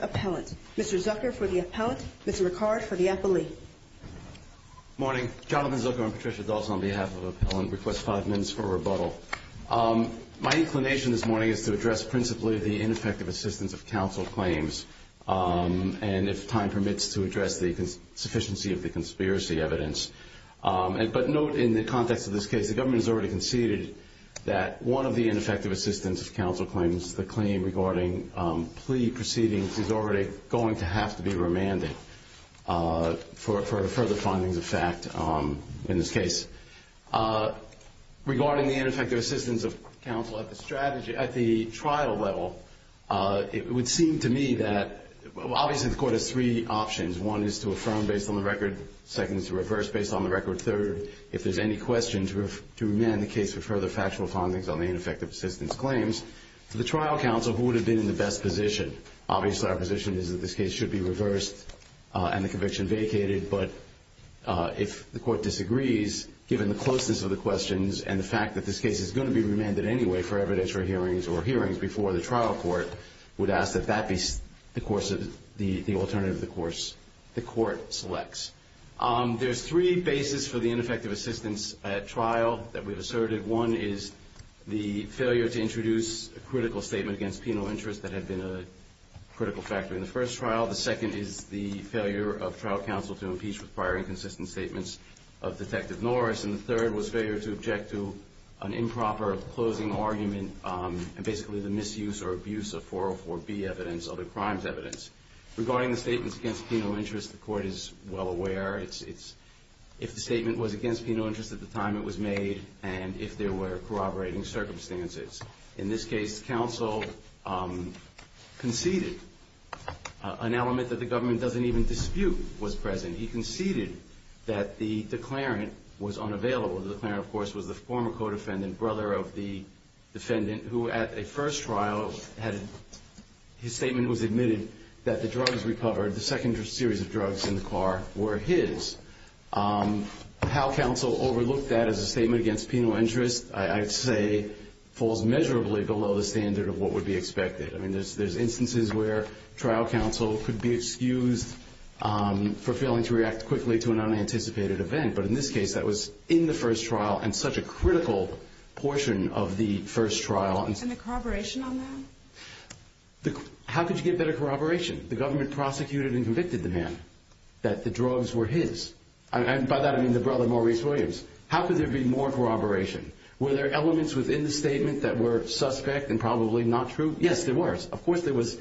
Appellant, Mr. Zucker for the Appellant, Mr. Ricard for the Appellee. Good morning. Jonathan Zucker and Patricia Dawson on behalf of Appellant request five minutes for rebuttal. My inclination this morning is to address principally the ineffective assistance of counsel claims and, if time permits, to address the sufficiency of the conspiracy evidence. But note, in the context of this case, the government has already conceded that one of the ineffective assistance of counsel claims, the claim regarding plea proceedings, is already going to have to be remanded for further findings of fact in this case. Regarding the ineffective assistance of counsel at the trial level, it would seem to me that obviously the court has three options. One is to affirm based on the record. Second is to reverse based on the record. Third, if there's any question, to remand the case for further factual findings on the ineffective assistance claims. For the trial counsel, who would have been in the best position? Obviously, our position is that this case should be reversed and the conviction vacated. But if the court disagrees, given the closeness of the questions and the fact that this case is going to be remanded anyway for evidence or hearings or hearings before the trial court, we'd ask that that be the alternative the court selects. There's three bases for the ineffective assistance at trial that we've asserted. One is the failure to introduce a critical statement against penal interest that had been a critical factor in the first trial. The second is the failure of trial counsel to impeach with prior inconsistent statements of Detective Norris. And the third was failure to object to an improper closing argument and basically the misuse or abuse of 404B evidence, other crimes evidence. Regarding the statements against penal interest, the court is well aware. If the statement was against penal interest at the time it was made and if there were corroborating circumstances. In this case, counsel conceded an element that the government doesn't even dispute was present. He conceded that the declarant was unavailable. The declarant, of course, was the former co-defendant, brother of the defendant, who at a first trial had his statement was admitted that the drugs recovered, the second series of drugs in the car were his. How counsel overlooked that as a statement against penal interest, I'd say falls measurably below the standard of what would be expected. I mean, there's instances where trial counsel could be excused for failing to react quickly to an unanticipated event. But in this case, that was in the first trial and such a critical portion of the first trial. And the corroboration on that? How could you get better corroboration? The government prosecuted and convicted the man that the drugs were his. And by that, I mean the brother, Maurice Williams. How could there be more corroboration? Were there elements within the statement that were suspect and probably not true? Yes, there were. Of course, there was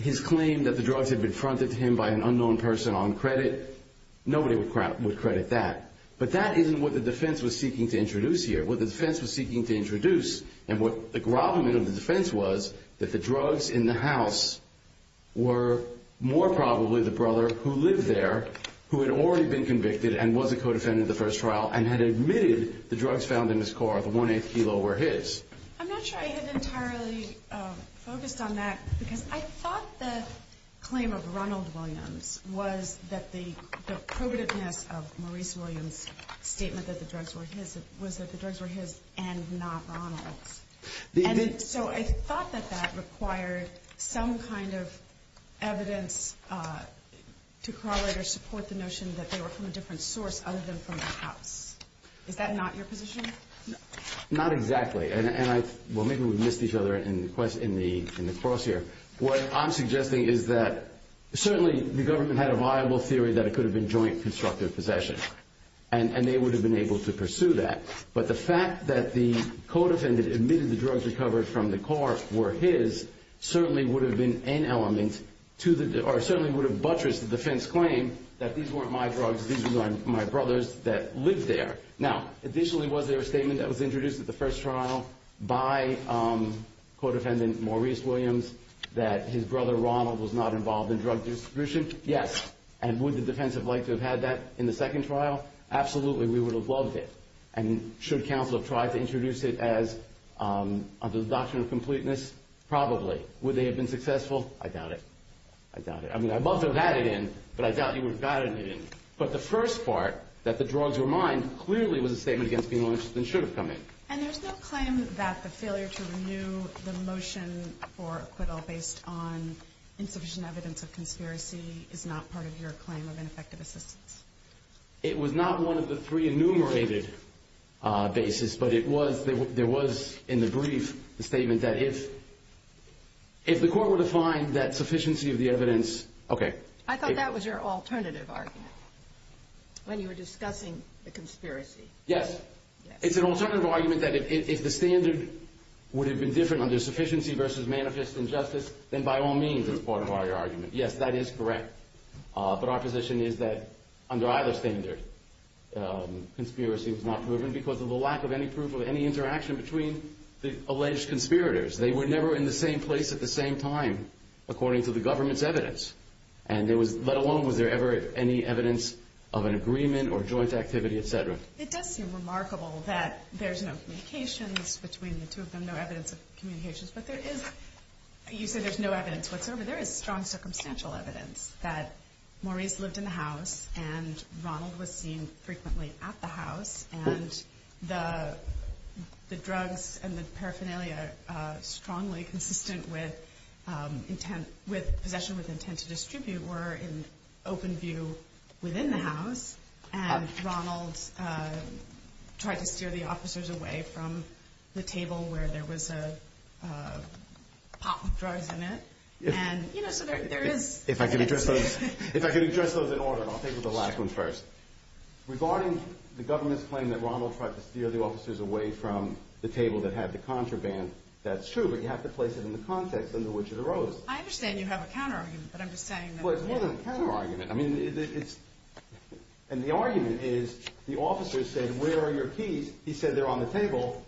his claim that the drugs had been fronted to him by an unknown person on credit. Nobody would credit that. But that isn't what the defense was seeking to introduce here. What the defense was seeking to introduce and what the grovelment of the defense was, that the drugs in the house were more probably the brother who lived there, who had already been convicted and was a co-defendant at the first trial, and had admitted the drugs found in his car, the one-eighth kilo, were his. I'm not sure I have entirely focused on that because I thought the claim of Ronald Williams was that the probativeness of Maurice Williams' statement that the drugs were his and not Ronald's. So I thought that that required some kind of evidence to corroborate or support the notion that they were from a different source other than from the house. Is that not your position? Not exactly. Well, maybe we missed each other in the cross here. What I'm suggesting is that certainly the government had a viable theory that it could have been joint constructive possession, and they would have been able to pursue that. But the fact that the co-defendant admitted the drugs recovered from the car were his certainly would have buttressed the defense claim that these weren't my drugs, these were my brother's that lived there. Now, additionally, was there a statement that was introduced at the first trial by co-defendant Maurice Williams that his brother Ronald was not involved in drug distribution? Yes. And would the defense have liked to have had that in the second trial? Absolutely, we would have loved it. And should counsel have tried to introduce it under the doctrine of completeness? Probably. Would they have been successful? I doubt it. I mean, I'd love to have had it in, but I doubt you would have gotten it in. But the first part, that the drugs were mine, clearly was a statement against being more interested than should have come in. And there's no claim that the failure to renew the motion for acquittal based on insufficient evidence of conspiracy is not part of your claim of ineffective assistance? It was not one of the three enumerated bases, but there was in the brief a statement that if the court were to find that sufficiency of the evidence I thought that was your alternative argument when you were discussing the conspiracy. Yes. It's an alternative argument that if the standard would have been different under sufficiency versus manifest injustice, then by all means it's part of our argument. Yes, that is correct. But our position is that under either standard, conspiracy was not proven because of the lack of any proof of any interaction between the alleged conspirators. They were never in the same place at the same time according to the government's evidence, let alone was there ever any evidence of an agreement or joint activity, et cetera. It does seem remarkable that there's no communications between the two of them, no evidence of communications, but there is, you said there's no evidence whatsoever. There is strong circumstantial evidence that Maurice lived in the house and Ronald was seen frequently at the house and the drugs and the paraphernalia strongly consistent with possession with intent to distribute were in open view within the house and Ronald tried to steer the officers away from the table where there was a pile of drugs in it. If I could address those in order and I'll take the last one first. Regarding the government's claim that Ronald tried to steer the officers away from the table that had the contraband, that's true, but you have to place it in the context under which it arose. I understand you have a counter argument, but I'm just saying that Well, it's more than a counter argument. And the argument is the officer said, where are your keys? He said they're on the table.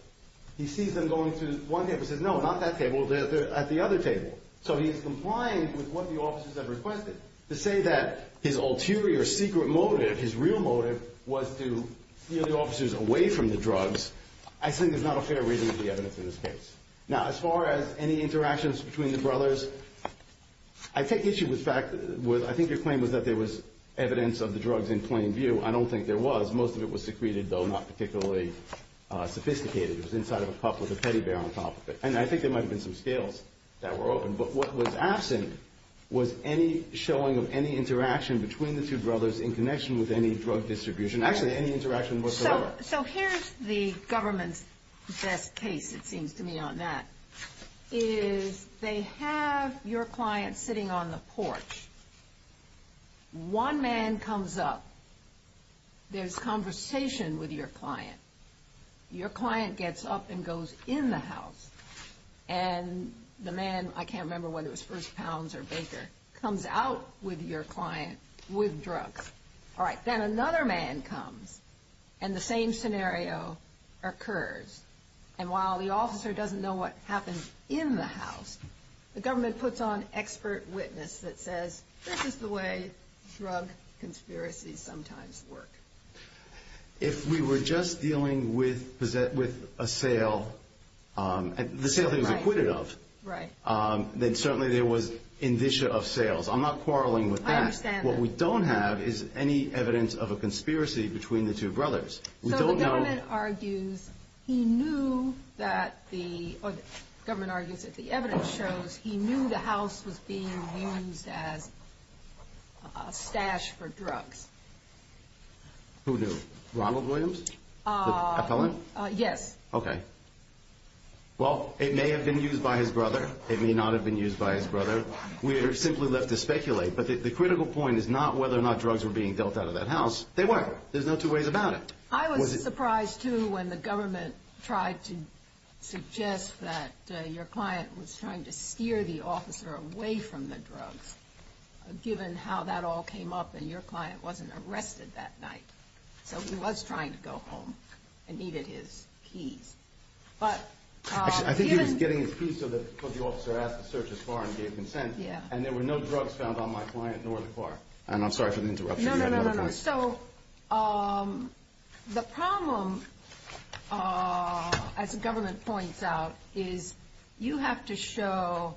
He sees them going to one table and says, no, not that table, they're at the other table. So he's complying with what the officers have requested. To say that his ulterior secret motive, his real motive, was to steer the officers away from the drugs, I think there's not a fair reading of the evidence in this case. Now, as far as any interactions between the brothers, I think your claim was that there was evidence of the drugs in plain view. I don't think there was. Most of it was secreted, though not particularly sophisticated. It was inside of a cup with a teddy bear on top of it. And I think there might have been some scales that were open. But what was absent was any showing of any interaction between the two brothers in connection with any drug distribution. Actually, any interaction whatsoever. So here's the government's best case, it seems to me, on that. They have your client sitting on the porch. One man comes up. There's conversation with your client. Your client gets up and goes in the house. And the man, I can't remember whether it was First Pounds or Baker, comes out with your client with drugs. All right, then another man comes, and the same scenario occurs. And while the officer doesn't know what happened in the house, the government puts on expert witness that says, this is the way drug conspiracies sometimes work. If we were just dealing with a sale, the sale that he was acquitted of, then certainly there was indicia of sales. I'm not quarreling with that. I understand that. What we don't have is any evidence of a conspiracy between the two brothers. So the government argues that the evidence shows he knew the house was being used as a stash for drugs. Who knew? Ronald Williams? The appellant? Yes. Okay. Well, it may have been used by his brother. It may not have been used by his brother. We are simply left to speculate. But the critical point is not whether or not drugs were being dealt out of that house. They were. There's no two ways about it. I was surprised, too, when the government tried to suggest that your client was trying to steer the officer away from the drugs, given how that all came up and your client wasn't arrested that night. So he was trying to go home and needed his keys. Actually, I think he was getting his keys because the officer asked to search his car and gave consent, and there were no drugs found on my client nor the car. I'm sorry for the interruption. No, no, no. So the problem, as the government points out, is you have to show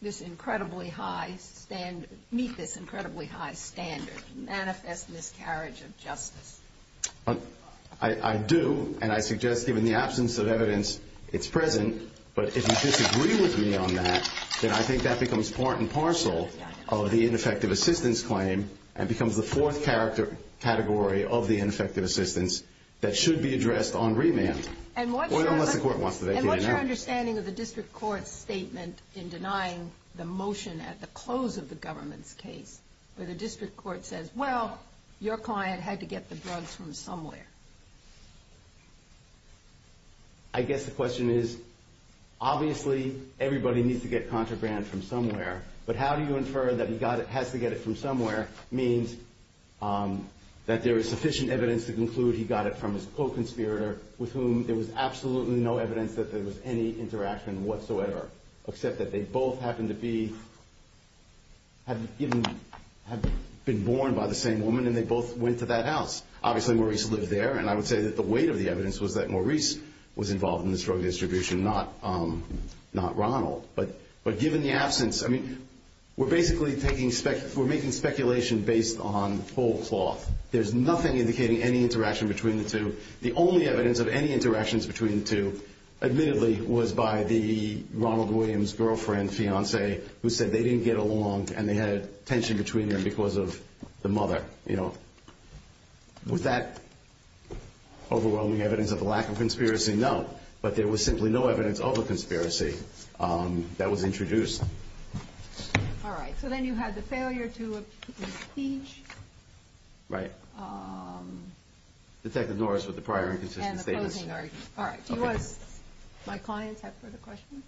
this incredibly high standard, meet this incredibly high standard, manifest miscarriage of justice. I do, and I suggest, given the absence of evidence, it's present, but if you disagree with me on that, then I think that becomes part and parcel of the ineffective assistance claim and becomes the fourth category of the ineffective assistance that should be addressed on remand. And what's your understanding of the district court's statement in denying the motion at the close of the government's case where the district court says, well, your client had to get the drugs from somewhere? I guess the question is, obviously, everybody needs to get contraband from somewhere, but how do you infer that he has to get it from somewhere means that there is sufficient evidence to conclude he got it from his co-conspirator with whom there was absolutely no evidence that there was any interaction whatsoever, except that they both happened to have been born by the same woman and they both went to that house. Obviously, Maurice lived there, and I would say that the weight of the evidence was that Maurice was involved in the drug distribution, not Ronald. But given the absence, I mean, we're basically making speculation based on whole cloth. There's nothing indicating any interaction between the two. The only evidence of any interactions between the two, admittedly, was by the Ronald Williams' girlfriend, who said they didn't get along and they had a tension between them because of the mother. Was that overwhelming evidence of a lack of conspiracy? No. But there was simply no evidence of a conspiracy that was introduced. All right. So then you had the failure to appeal the speech. Right. Detective Norris with the prior inconsistent statements. And the closing argument. All right. Do my clients have further questions?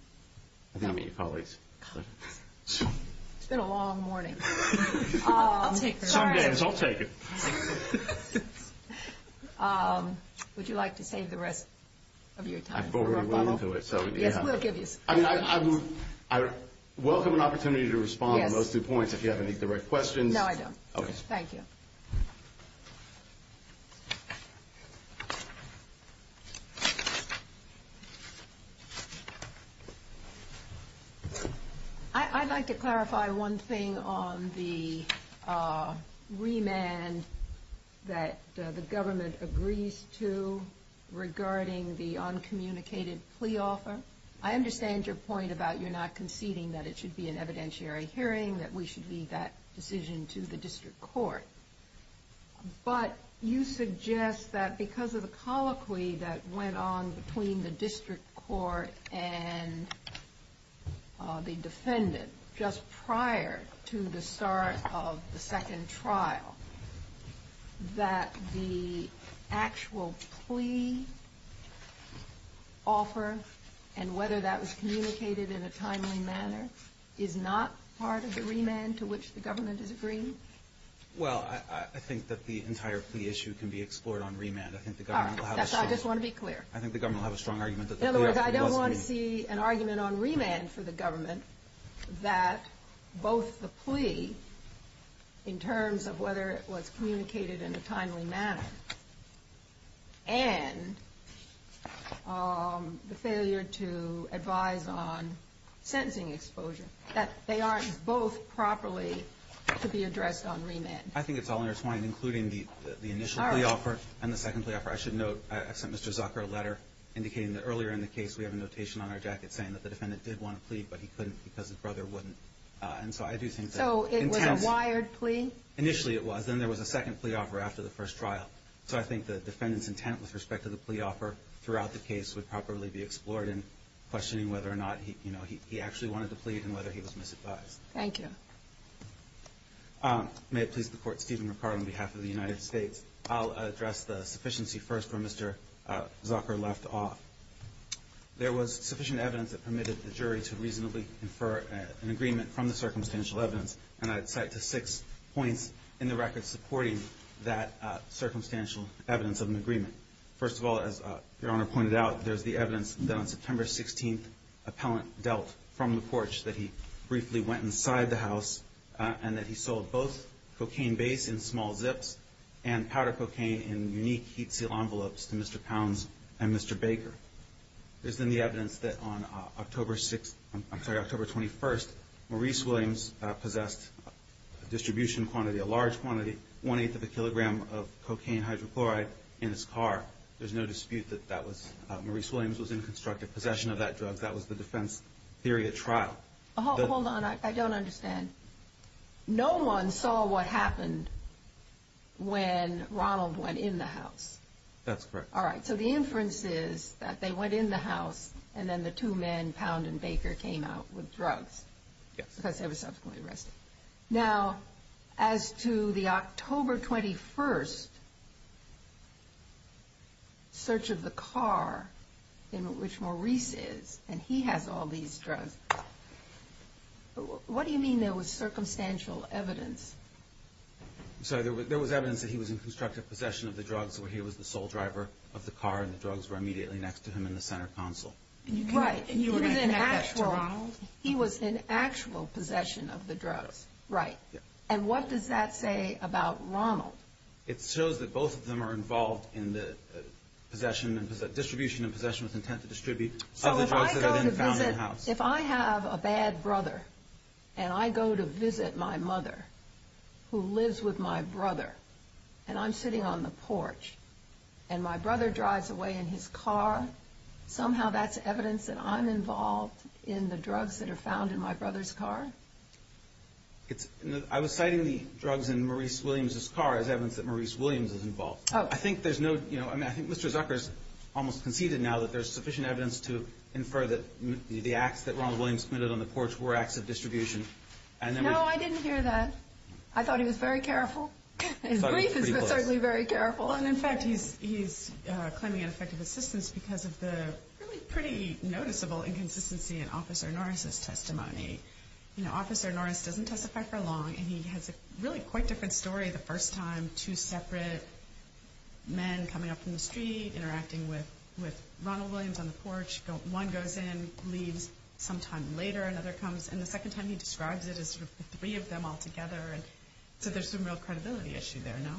Not me, colleagues. It's been a long morning. I'll take it. Sorry. I'll take it. Would you like to save the rest of your time? I've already run into it. Yes, we'll give you some time. I welcome an opportunity to respond to those two points if you have any direct questions. No, I don't. Okay. Thank you. I'd like to clarify one thing on the remand that the government agrees to regarding the uncommunicated plea offer. I understand your point about you're not conceding that it should be an evidentiary hearing, that we should leave that decision to the district court. But you suggest that because of the colloquy that went on between the district court and the defendant, just prior to the start of the second trial, that the actual plea offer, and whether that was communicated in a timely manner, is not part of the remand to which the government is agreeing? Well, I think that the entire plea issue can be explored on remand. All right. That's all. I just want to be clear. I think the government will have a strong argument that the plea offer was made. In other words, I don't want to see an argument on remand for the government that both the plea, in terms of whether it was communicated in a timely manner, and the failure to advise on sentencing exposure, that they aren't both properly to be addressed on remand. I think it's all intertwined, including the initial plea offer and the second plea offer. I should note, I sent Mr. Zucker a letter indicating that earlier in the case, we have a notation on our jacket saying that the defendant did want to plead, but he couldn't because his brother wouldn't. So it was a wired plea? Initially it was. Then there was a second plea offer after the first trial. So I think the defendant's intent with respect to the plea offer throughout the case would properly be explored in questioning whether or not he actually wanted to plead and whether he was misadvised. Thank you. May it please the Court, Stephen Ricard on behalf of the United States, I'll address the sufficiency first where Mr. Zucker left off. There was sufficient evidence that permitted the jury to reasonably infer an agreement from the circumstantial evidence, and I'd cite to six points in the record supporting that circumstantial evidence of an agreement. First of all, as Your Honor pointed out, there's the evidence that on September 16th appellant dealt from the porch, that he briefly went inside the house and that he sold both cocaine base in small zips and powder cocaine in unique heat seal envelopes to Mr. Pounds and Mr. Baker. There's then the evidence that on October 6th, I'm sorry, October 21st, Maurice Williams possessed a distribution quantity, a large quantity, one-eighth of a kilogram of cocaine hydrochloride in his car. There's no dispute that that was Maurice Williams was in constructive possession of that drug. That was the defense theory at trial. Hold on. I don't understand. No one saw what happened when Ronald went in the house. That's correct. All right. So the inference is that they went in the house and then the two men, Pound and Baker, came out with drugs. Yes. Because they were subsequently arrested. Now, as to the October 21st search of the car in which Maurice is, and he has all these drugs, what do you mean there was circumstantial evidence? I'm sorry. There was evidence that he was in constructive possession of the drugs where he was the sole driver of the car and the drugs were immediately next to him in the center console. Right. He was in actual possession of the drugs. Right. And what does that say about Ronald? It shows that both of them are involved in the distribution and possession with intent to distribute other drugs that are then found in the house. So if I go to visit, if I have a bad brother and I go to visit my mother who lives with my brother and I'm sitting on the porch and my brother drives away in his car, somehow that's evidence that I'm involved in the drugs that are found in my brother's car? I was citing the drugs in Maurice Williams' car as evidence that Maurice Williams is involved. Okay. I think Mr. Zucker has almost conceded now that there's sufficient evidence to infer that the acts that Ronald Williams committed on the porch were acts of distribution. No, I didn't hear that. I thought he was very careful. His brief is certainly very careful. And, in fact, he's claiming ineffective assistance because of the pretty noticeable inconsistency in Officer Norris' testimony. Officer Norris doesn't testify for long, and he has a really quite different story the first time, two separate men coming up from the street, interacting with Ronald Williams on the porch. One goes in, leaves, sometime later another comes, and the second time he describes it as the three of them all together. So there's some real credibility issue there, no?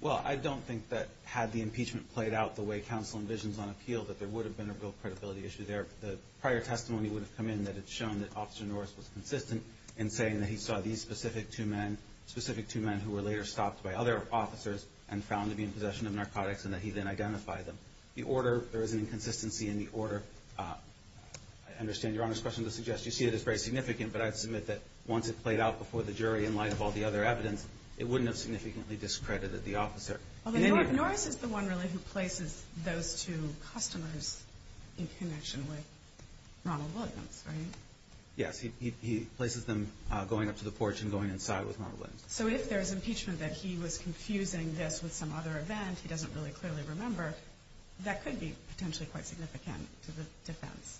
Well, I don't think that had the impeachment played out the way counsel envisions on appeal, that there would have been a real credibility issue there. The prior testimony would have come in that it's shown that Officer Norris was consistent in saying that he saw these specific two men, specific two men who were later stopped by other officers and found to be in possession of narcotics and that he then identified them. The order, there is an inconsistency in the order. I understand Your Honor's question to suggest you see it as very significant, but I'd submit that once it played out before the jury in light of all the other evidence, it wouldn't have significantly discredited the officer. Norris is the one really who places those two customers in connection with Ronald Williams, right? Yes, he places them going up to the porch and going inside with Ronald Williams. So if there's impeachment that he was confusing this with some other event, he doesn't really clearly remember, that could be potentially quite significant to the defense.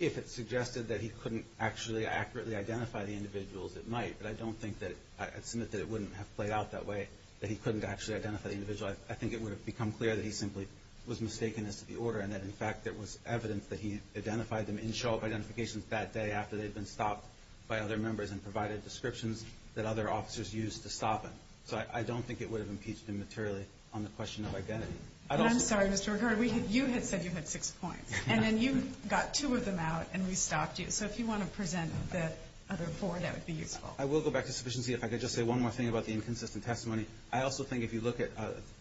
If it suggested that he couldn't actually accurately identify the individuals, it might, but I don't think that I'd submit that it wouldn't have played out that way, that he couldn't actually identify the individual. I think it would have become clear that he simply was mistaken as to the order and that, in fact, there was evidence that he identified them in show-up identifications that day after they'd been stopped by other members and provided descriptions that other officers used to stop him. So I don't think it would have impeached him materially on the question of identity. I'm sorry, Mr. Ricardo, you had said you had six points, and then you got two of them out and we stopped you. Okay, so if you want to present the other four, that would be useful. I will go back to sufficiency if I could just say one more thing about the inconsistent testimony. I also think if you look at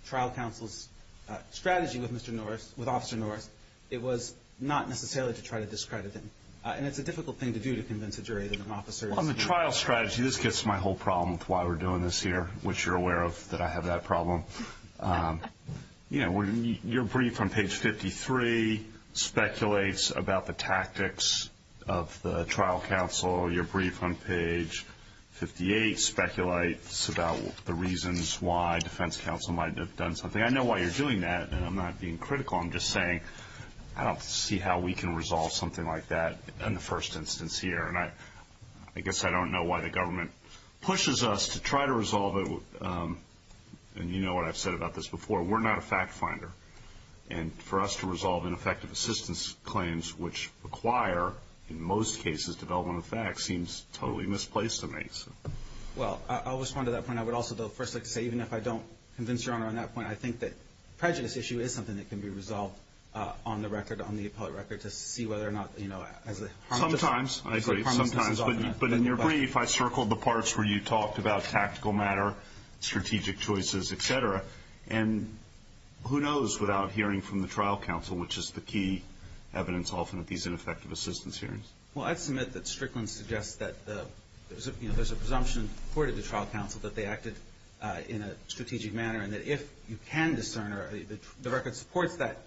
trial counsel's strategy with Officer Norris, it was not necessarily to try to discredit him, and it's a difficult thing to do to convince a jury that an officer is— On the trial strategy, this gets to my whole problem with why we're doing this here, which you're aware of, that I have that problem. Your brief on page 53 speculates about the tactics of the trial counsel. Your brief on page 58 speculates about the reasons why defense counsel might have done something. I know why you're doing that, and I'm not being critical. I'm just saying I don't see how we can resolve something like that in the first instance here, and I guess I don't know why the government pushes us to try to resolve it. And you know what I've said about this before. We're not a fact finder, and for us to resolve ineffective assistance claims, which require, in most cases, development of facts, seems totally misplaced to me. Well, I'll respond to that point. I would also, though, first like to say, even if I don't convince Your Honor on that point, I think that prejudice issue is something that can be resolved on the record, on the appellate record, to see whether or not, you know, as a harm— Sometimes, I agree, sometimes. But in your brief, I circled the parts where you talked about tactical matter, strategic choices, et cetera. And who knows without hearing from the trial counsel, which is the key evidence often of these ineffective assistance hearings. Well, I'd submit that Strickland suggests that, you know, there's a presumption reported to trial counsel that they acted in a strategic manner, and that if you can discern or the record supports that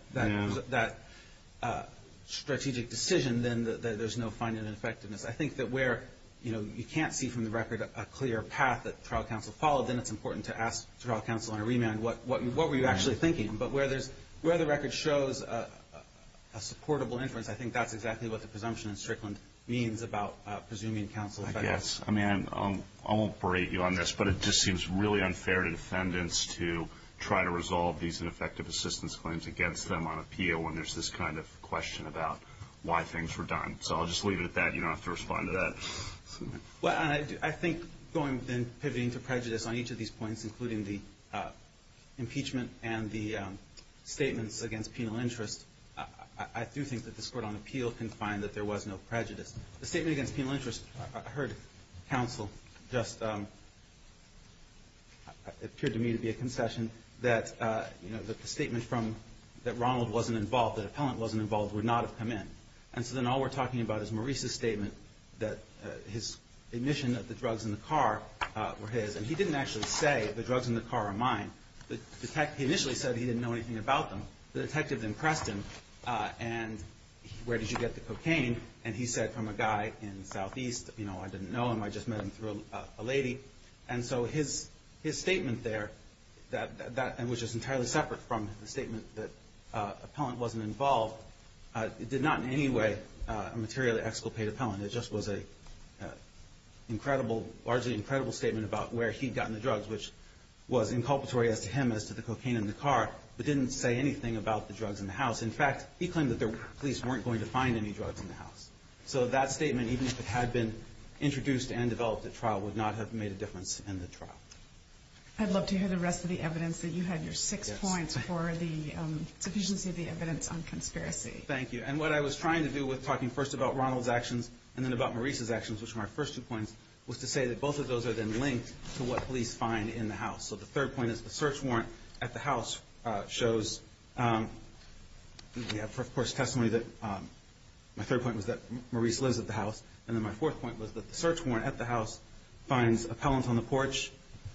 strategic decision, then there's no finding an effectiveness. I think that where, you know, you can't see from the record a clear path that trial counsel followed, then it's important to ask trial counsel on a remand, what were you actually thinking? But where the record shows a supportable inference, I think that's exactly what the presumption in Strickland means about presuming counsel. I guess. I mean, I won't berate you on this, but it just seems really unfair to defendants to try to resolve these ineffective assistance claims against them on appeal when there's this kind of question about why things were done. So I'll just leave it at that. You don't have to respond to that. Well, and I think going then pivoting to prejudice on each of these points, including the impeachment and the statements against penal interest, I do think that this Court on Appeal can find that there was no prejudice. The statement against penal interest, I heard counsel just, it appeared to me to be a concession, that, you know, the statement from that Ronald wasn't involved, that an appellant wasn't involved, would not have come in. And so then all we're talking about is Maurice's statement that his admission that the drugs in the car were his. And he didn't actually say the drugs in the car are mine. He initially said he didn't know anything about them. The detective then pressed him, and where did you get the cocaine? And he said from a guy in the southeast, you know, I didn't know him. I just met him through a lady. And so his statement there, and which is entirely separate from the statement that it was not in any way a materially exculpate appellant. It just was an incredible, largely incredible statement about where he'd gotten the drugs, which was inculpatory as to him as to the cocaine in the car, but didn't say anything about the drugs in the house. In fact, he claimed that the police weren't going to find any drugs in the house. So that statement, even if it had been introduced and developed at trial, would not have made a difference in the trial. I'd love to hear the rest of the evidence, that you had your six points for the sufficiency of the evidence on conspiracy. Thank you. And what I was trying to do with talking first about Ronald's actions and then about Maurice's actions, which were my first two points, was to say that both of those are then linked to what police find in the house. So the third point is the search warrant at the house shows, we have, of course, testimony that my third point was that Maurice lives at the house, and then my fourth point was that the search warrant at the house finds appellant on the porch.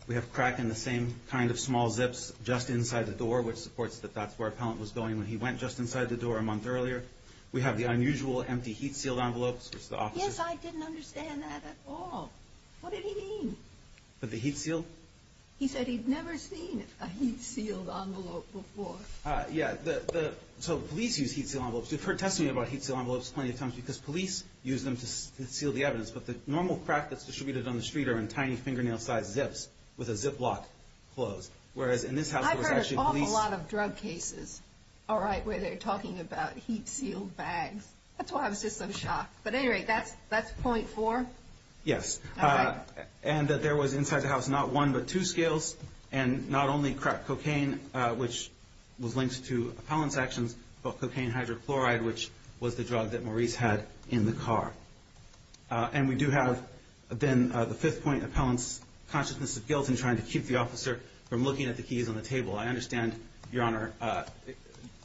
We have crack in the same kind of small zips just inside the door, which supports that that's where appellant was going when he went just inside the door a month earlier. We have the unusual, empty heat-sealed envelopes, which the officer- Yes, I didn't understand that at all. What did he mean? The heat-sealed? He said he'd never seen a heat-sealed envelope before. Yeah, so police use heat-sealed envelopes. We've heard testimony about heat-sealed envelopes plenty of times because police use them to seal the evidence, but the normal crack that's distributed on the street are in tiny fingernail-sized zips with a ziplock closed, whereas in this house- I've heard an awful lot of drug cases, all right, where they're talking about heat-sealed bags. That's why I was just so shocked, but at any rate, that's point four? Yes. All right. And that there was inside the house not one but two scales, and not only cocaine, which was linked to appellant's actions, but cocaine hydrochloride, which was the drug that Maurice had in the car. And we do have then the fifth point, appellant's consciousness of guilt in trying to keep the officer from looking at the keys on the table. I understand, Your Honor,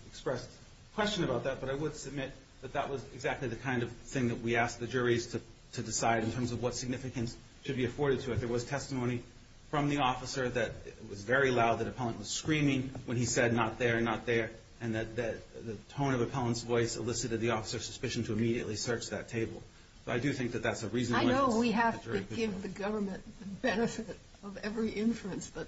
expressed question about that, but I would submit that that was exactly the kind of thing that we asked the juries to decide in terms of what significance should be afforded to it. There was testimony from the officer that was very loud, that appellant was screaming when he said, and that the tone of appellant's voice elicited the officer's suspicion to immediately search that table. But I do think that that's a reasonable- I know we have to give the government the benefit of every inference, but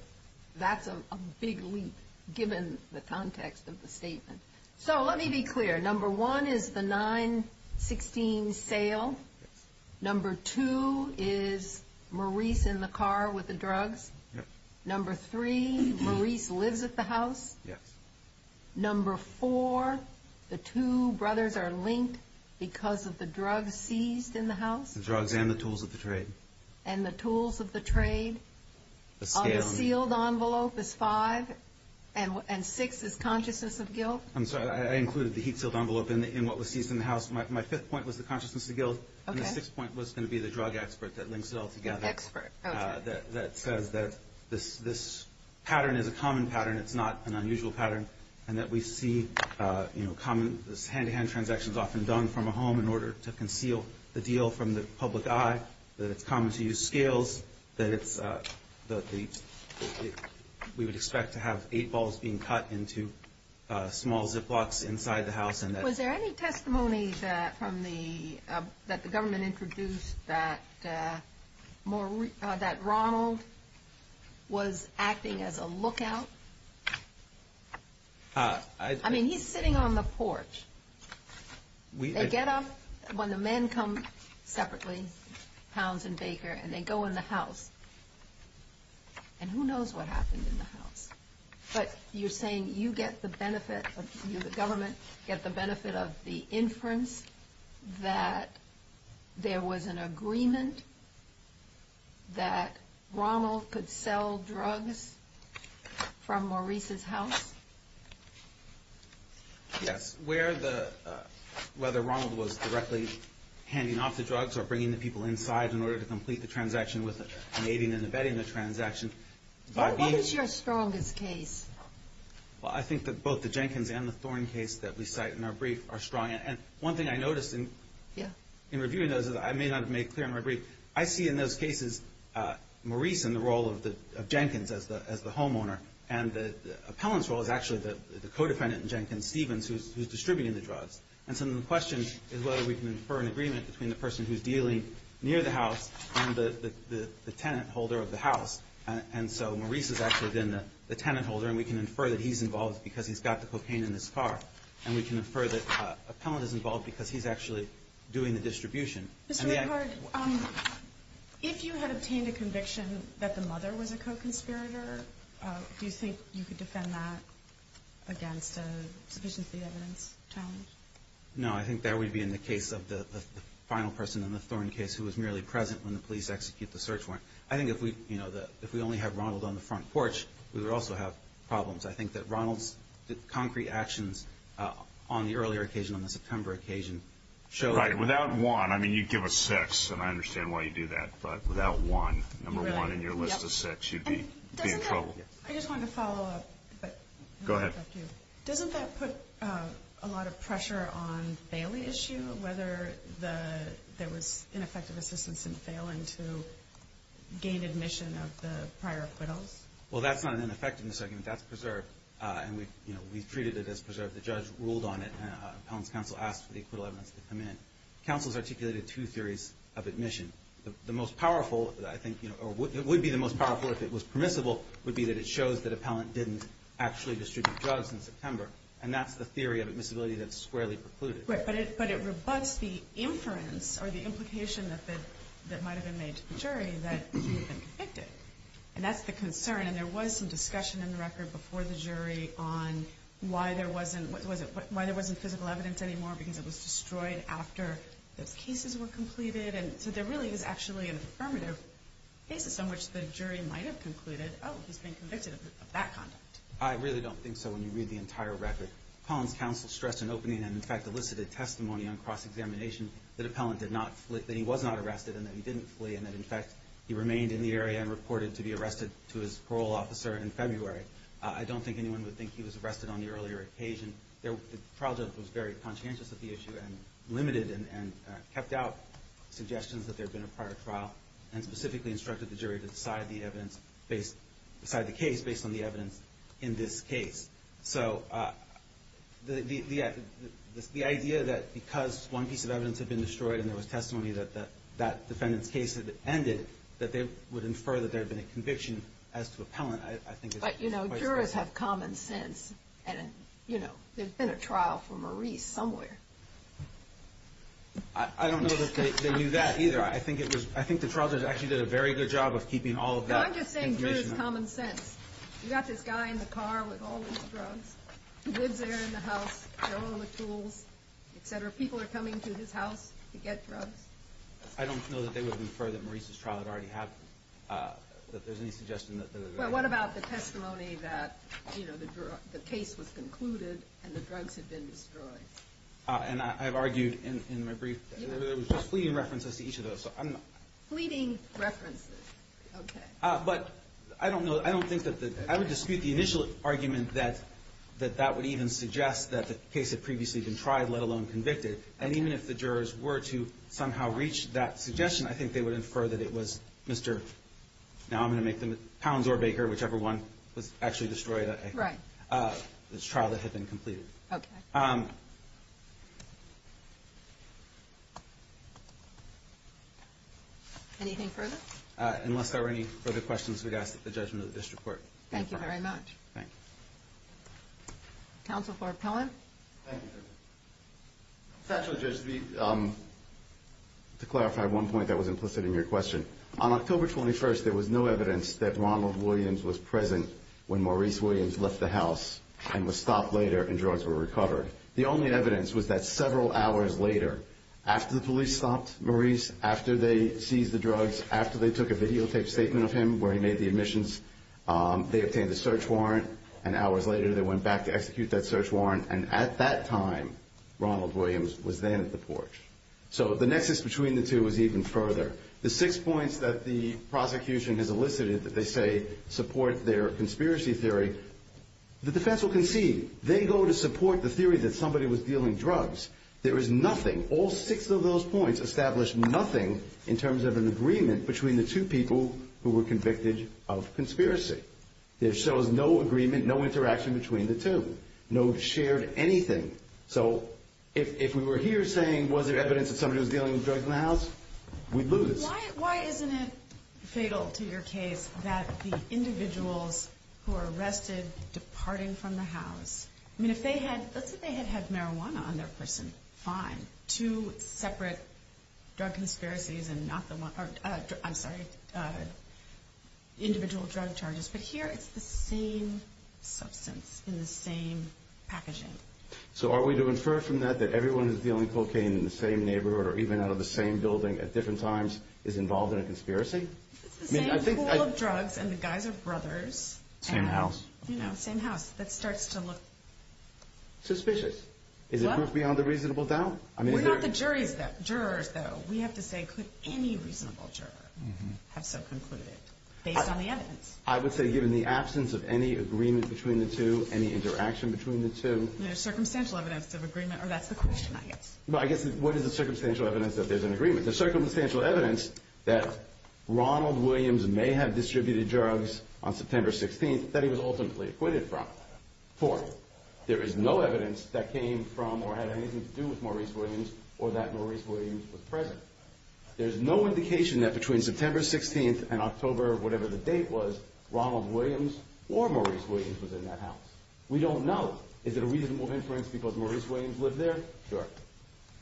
that's a big leap, given the context of the statement. So let me be clear. Number one is the 916 sale. Number two is Maurice in the car with the drugs. Yes. Number three, Maurice lives at the house. Yes. Number four, the two brothers are linked because of the drugs seized in the house. The drugs and the tools of the trade. And the tools of the trade. The scale. The sealed envelope is five. And six is consciousness of guilt. I'm sorry. I included the heat-sealed envelope in what was seized in the house. My fifth point was the consciousness of guilt. Okay. And the sixth point was going to be the drug expert that links it all together. The expert. Okay. That says that this pattern is a common pattern. It's not an unusual pattern. And that we see this hand-to-hand transaction is often done from a home in order to conceal the deal from the public eye. That it's common to use scales. That we would expect to have eight balls being cut into small ziplocks inside the house. Was there any testimony that the government introduced that Ronald was acting as a lookout? I mean, he's sitting on the porch. They get up when the men come separately, Pounds and Baker, and they go in the house. And who knows what happened in the house. But you're saying you get the benefit, you, the government, get the benefit of the inference that there was an agreement that Ronald could sell drugs from Maurice's house? Yes. Whether Ronald was directly handing off the drugs or bringing the people inside in order to complete the transaction with an aiding and abetting the transaction. What was your strongest case? Well, I think that both the Jenkins and the Thorne case that we cite in our brief are strong. And one thing I noticed in reviewing those is I may not have made clear in my brief. I see in those cases Maurice in the role of Jenkins as the homeowner. And the appellant's role is actually the co-defendant in Jenkins, Stevens, who's distributing the drugs. And so the question is whether we can infer an agreement between the person who's dealing near the house and the tenant holder of the house. And so Maurice has actually been the tenant holder. And we can infer that he's involved because he's got the cocaine in his car. And we can infer that an appellant is involved because he's actually doing the distribution. Mr. Rickard, if you had obtained a conviction that the mother was a co-conspirator, do you think you could defend that against a sufficiency evidence challenge? No, I think that would be in the case of the final person in the Thorne case who was merely present when the police execute the search warrant. I think if we only have Ronald on the front porch, we would also have problems. I think that Ronald's concrete actions on the earlier occasion, on the September occasion, show that. Right, without Juan, I mean, you'd give a six, and I understand why you'd do that. But without Juan, number one in your list of six, you'd be in trouble. Go ahead. Doesn't that put a lot of pressure on the Bailey issue, whether there was ineffective assistance in failing to gain admission of the prior acquittals? Well, that's not an ineffectiveness argument. That's preserved. And we've treated it as preserved. The judge ruled on it. Appellant's counsel asked for the acquittal evidence to come in. Counsel's articulated two theories of admission. The most powerful, I think, or would be the most powerful if it was permissible, would be that it shows that appellant didn't actually distribute drugs in September. And that's the theory of admissibility that's squarely precluded. Right, but it rebuts the inference or the implication that might have been made to the jury that he had been convicted. And that's the concern. And there was some discussion in the record before the jury on why there wasn't physical evidence anymore because it was destroyed after the cases were completed. And so there really is actually an affirmative basis on which the jury might have concluded, oh, he's been convicted of that conduct. I really don't think so when you read the entire record. Appellant's counsel stressed an opening and, in fact, elicited testimony on cross-examination that he was not arrested and that he didn't flee. And that, in fact, he remained in the area and reported to be arrested to his parole officer in February. I don't think anyone would think he was arrested on the earlier occasion. The trial judge was very conscientious of the issue and limited and kept out suggestions that there had been a prior trial and specifically instructed the jury to decide the case based on the evidence in this case. So the idea that because one piece of evidence had been destroyed and there was testimony that that defendant's case had ended, that they would infer that there had been a conviction as to appellant, I think is quite specific. But jurors have common sense. And, you know, there's been a trial for Maurice somewhere. I don't know that they knew that either. I think the trial judge actually did a very good job of keeping all of that information. No, I'm just saying jurors have common sense. You've got this guy in the car with all these drugs. He lives there in the house. They're all in the tools, et cetera. People are coming to his house to get drugs. I don't know that they would infer that Maurice's trial had already happened, that there's any suggestion that there had been. Well, what about the testimony that, you know, the case was concluded and the drugs had been destroyed? And I've argued in my brief that there was just fleeting references to each of those. Fleeting references. Okay. But I don't know. I don't think that the – I would dispute the initial argument that that would even suggest that the case had previously been tried, let alone convicted. And even if the jurors were to somehow reach that suggestion, I think they would infer that it was Mr. Now I'm going to make them Pounds or Baker, whichever one was actually destroyed. Right. This trial that had been completed. Okay. Anything further? Unless there are any further questions, we'd ask that the judgment of the district court. Thank you very much. Thank you. Counsel for Pellin. Thank you, Judge. To clarify one point that was implicit in your question, on October 21st there was no evidence that Ronald Williams was present when Maurice Williams left the house and was stopped later and drugs were recovered. The only evidence was that several hours later, after the police stopped Maurice, after they seized the drugs, after they took a videotaped statement of him where he made the admissions, they obtained a search warrant, and hours later they went back to execute that search warrant, and at that time Ronald Williams was then at the porch. So the nexus between the two is even further. The six points that the prosecution has elicited that they say support their conspiracy theory, the defense will concede. They go to support the theory that somebody was dealing drugs. There is nothing, all six of those points establish nothing in terms of an agreement between the two people who were convicted of conspiracy. There shows no agreement, no interaction between the two, no shared anything. So if we were here saying was there evidence that somebody was dealing drugs in the house, we'd lose. Why isn't it fatal to your case that the individuals who are arrested departing from the house, I mean if they had, let's say they had had marijuana on their person, fine. Two separate drug conspiracies and not the one, I'm sorry, individual drug charges. But here it's the same substance in the same packaging. So are we to infer from that that everyone who's dealing cocaine in the same neighborhood or even out of the same building at different times is involved in a conspiracy? It's the same pool of drugs and the guys are brothers. Same house. You know, same house. That starts to look... Suspicious. Is it beyond a reasonable doubt? We're not the jurors, though. We have to say could any reasonable juror have so concluded based on the evidence? I would say given the absence of any agreement between the two, any interaction between the two... There's circumstantial evidence of agreement, or that's the question, I guess. Well, I guess what is the circumstantial evidence that there's an agreement? There's circumstantial evidence that Ronald Williams may have distributed drugs on September 16th that he was ultimately acquitted from. Fourth, there is no evidence that came from or had anything to do with Maurice Williams or that Maurice Williams was present. There's no indication that between September 16th and October, whatever the date was, Ronald Williams or Maurice Williams was in that house. We don't know. Is it a reasonable inference because Maurice Williams lived there? Sure.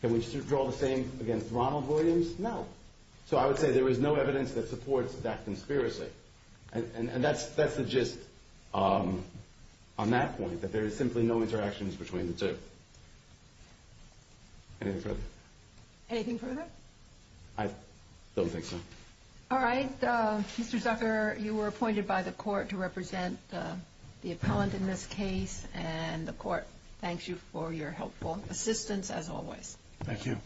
Can we draw the same against Ronald Williams? No. So I would say there is no evidence that supports that conspiracy. And that's the gist on that point, that there is simply no interactions between the two. Anything further? Anything further? I don't think so. All right. Mr. Zucker, you were appointed by the court to represent the appellant in this case, and the court thanks you for your helpful assistance as always. Thank you.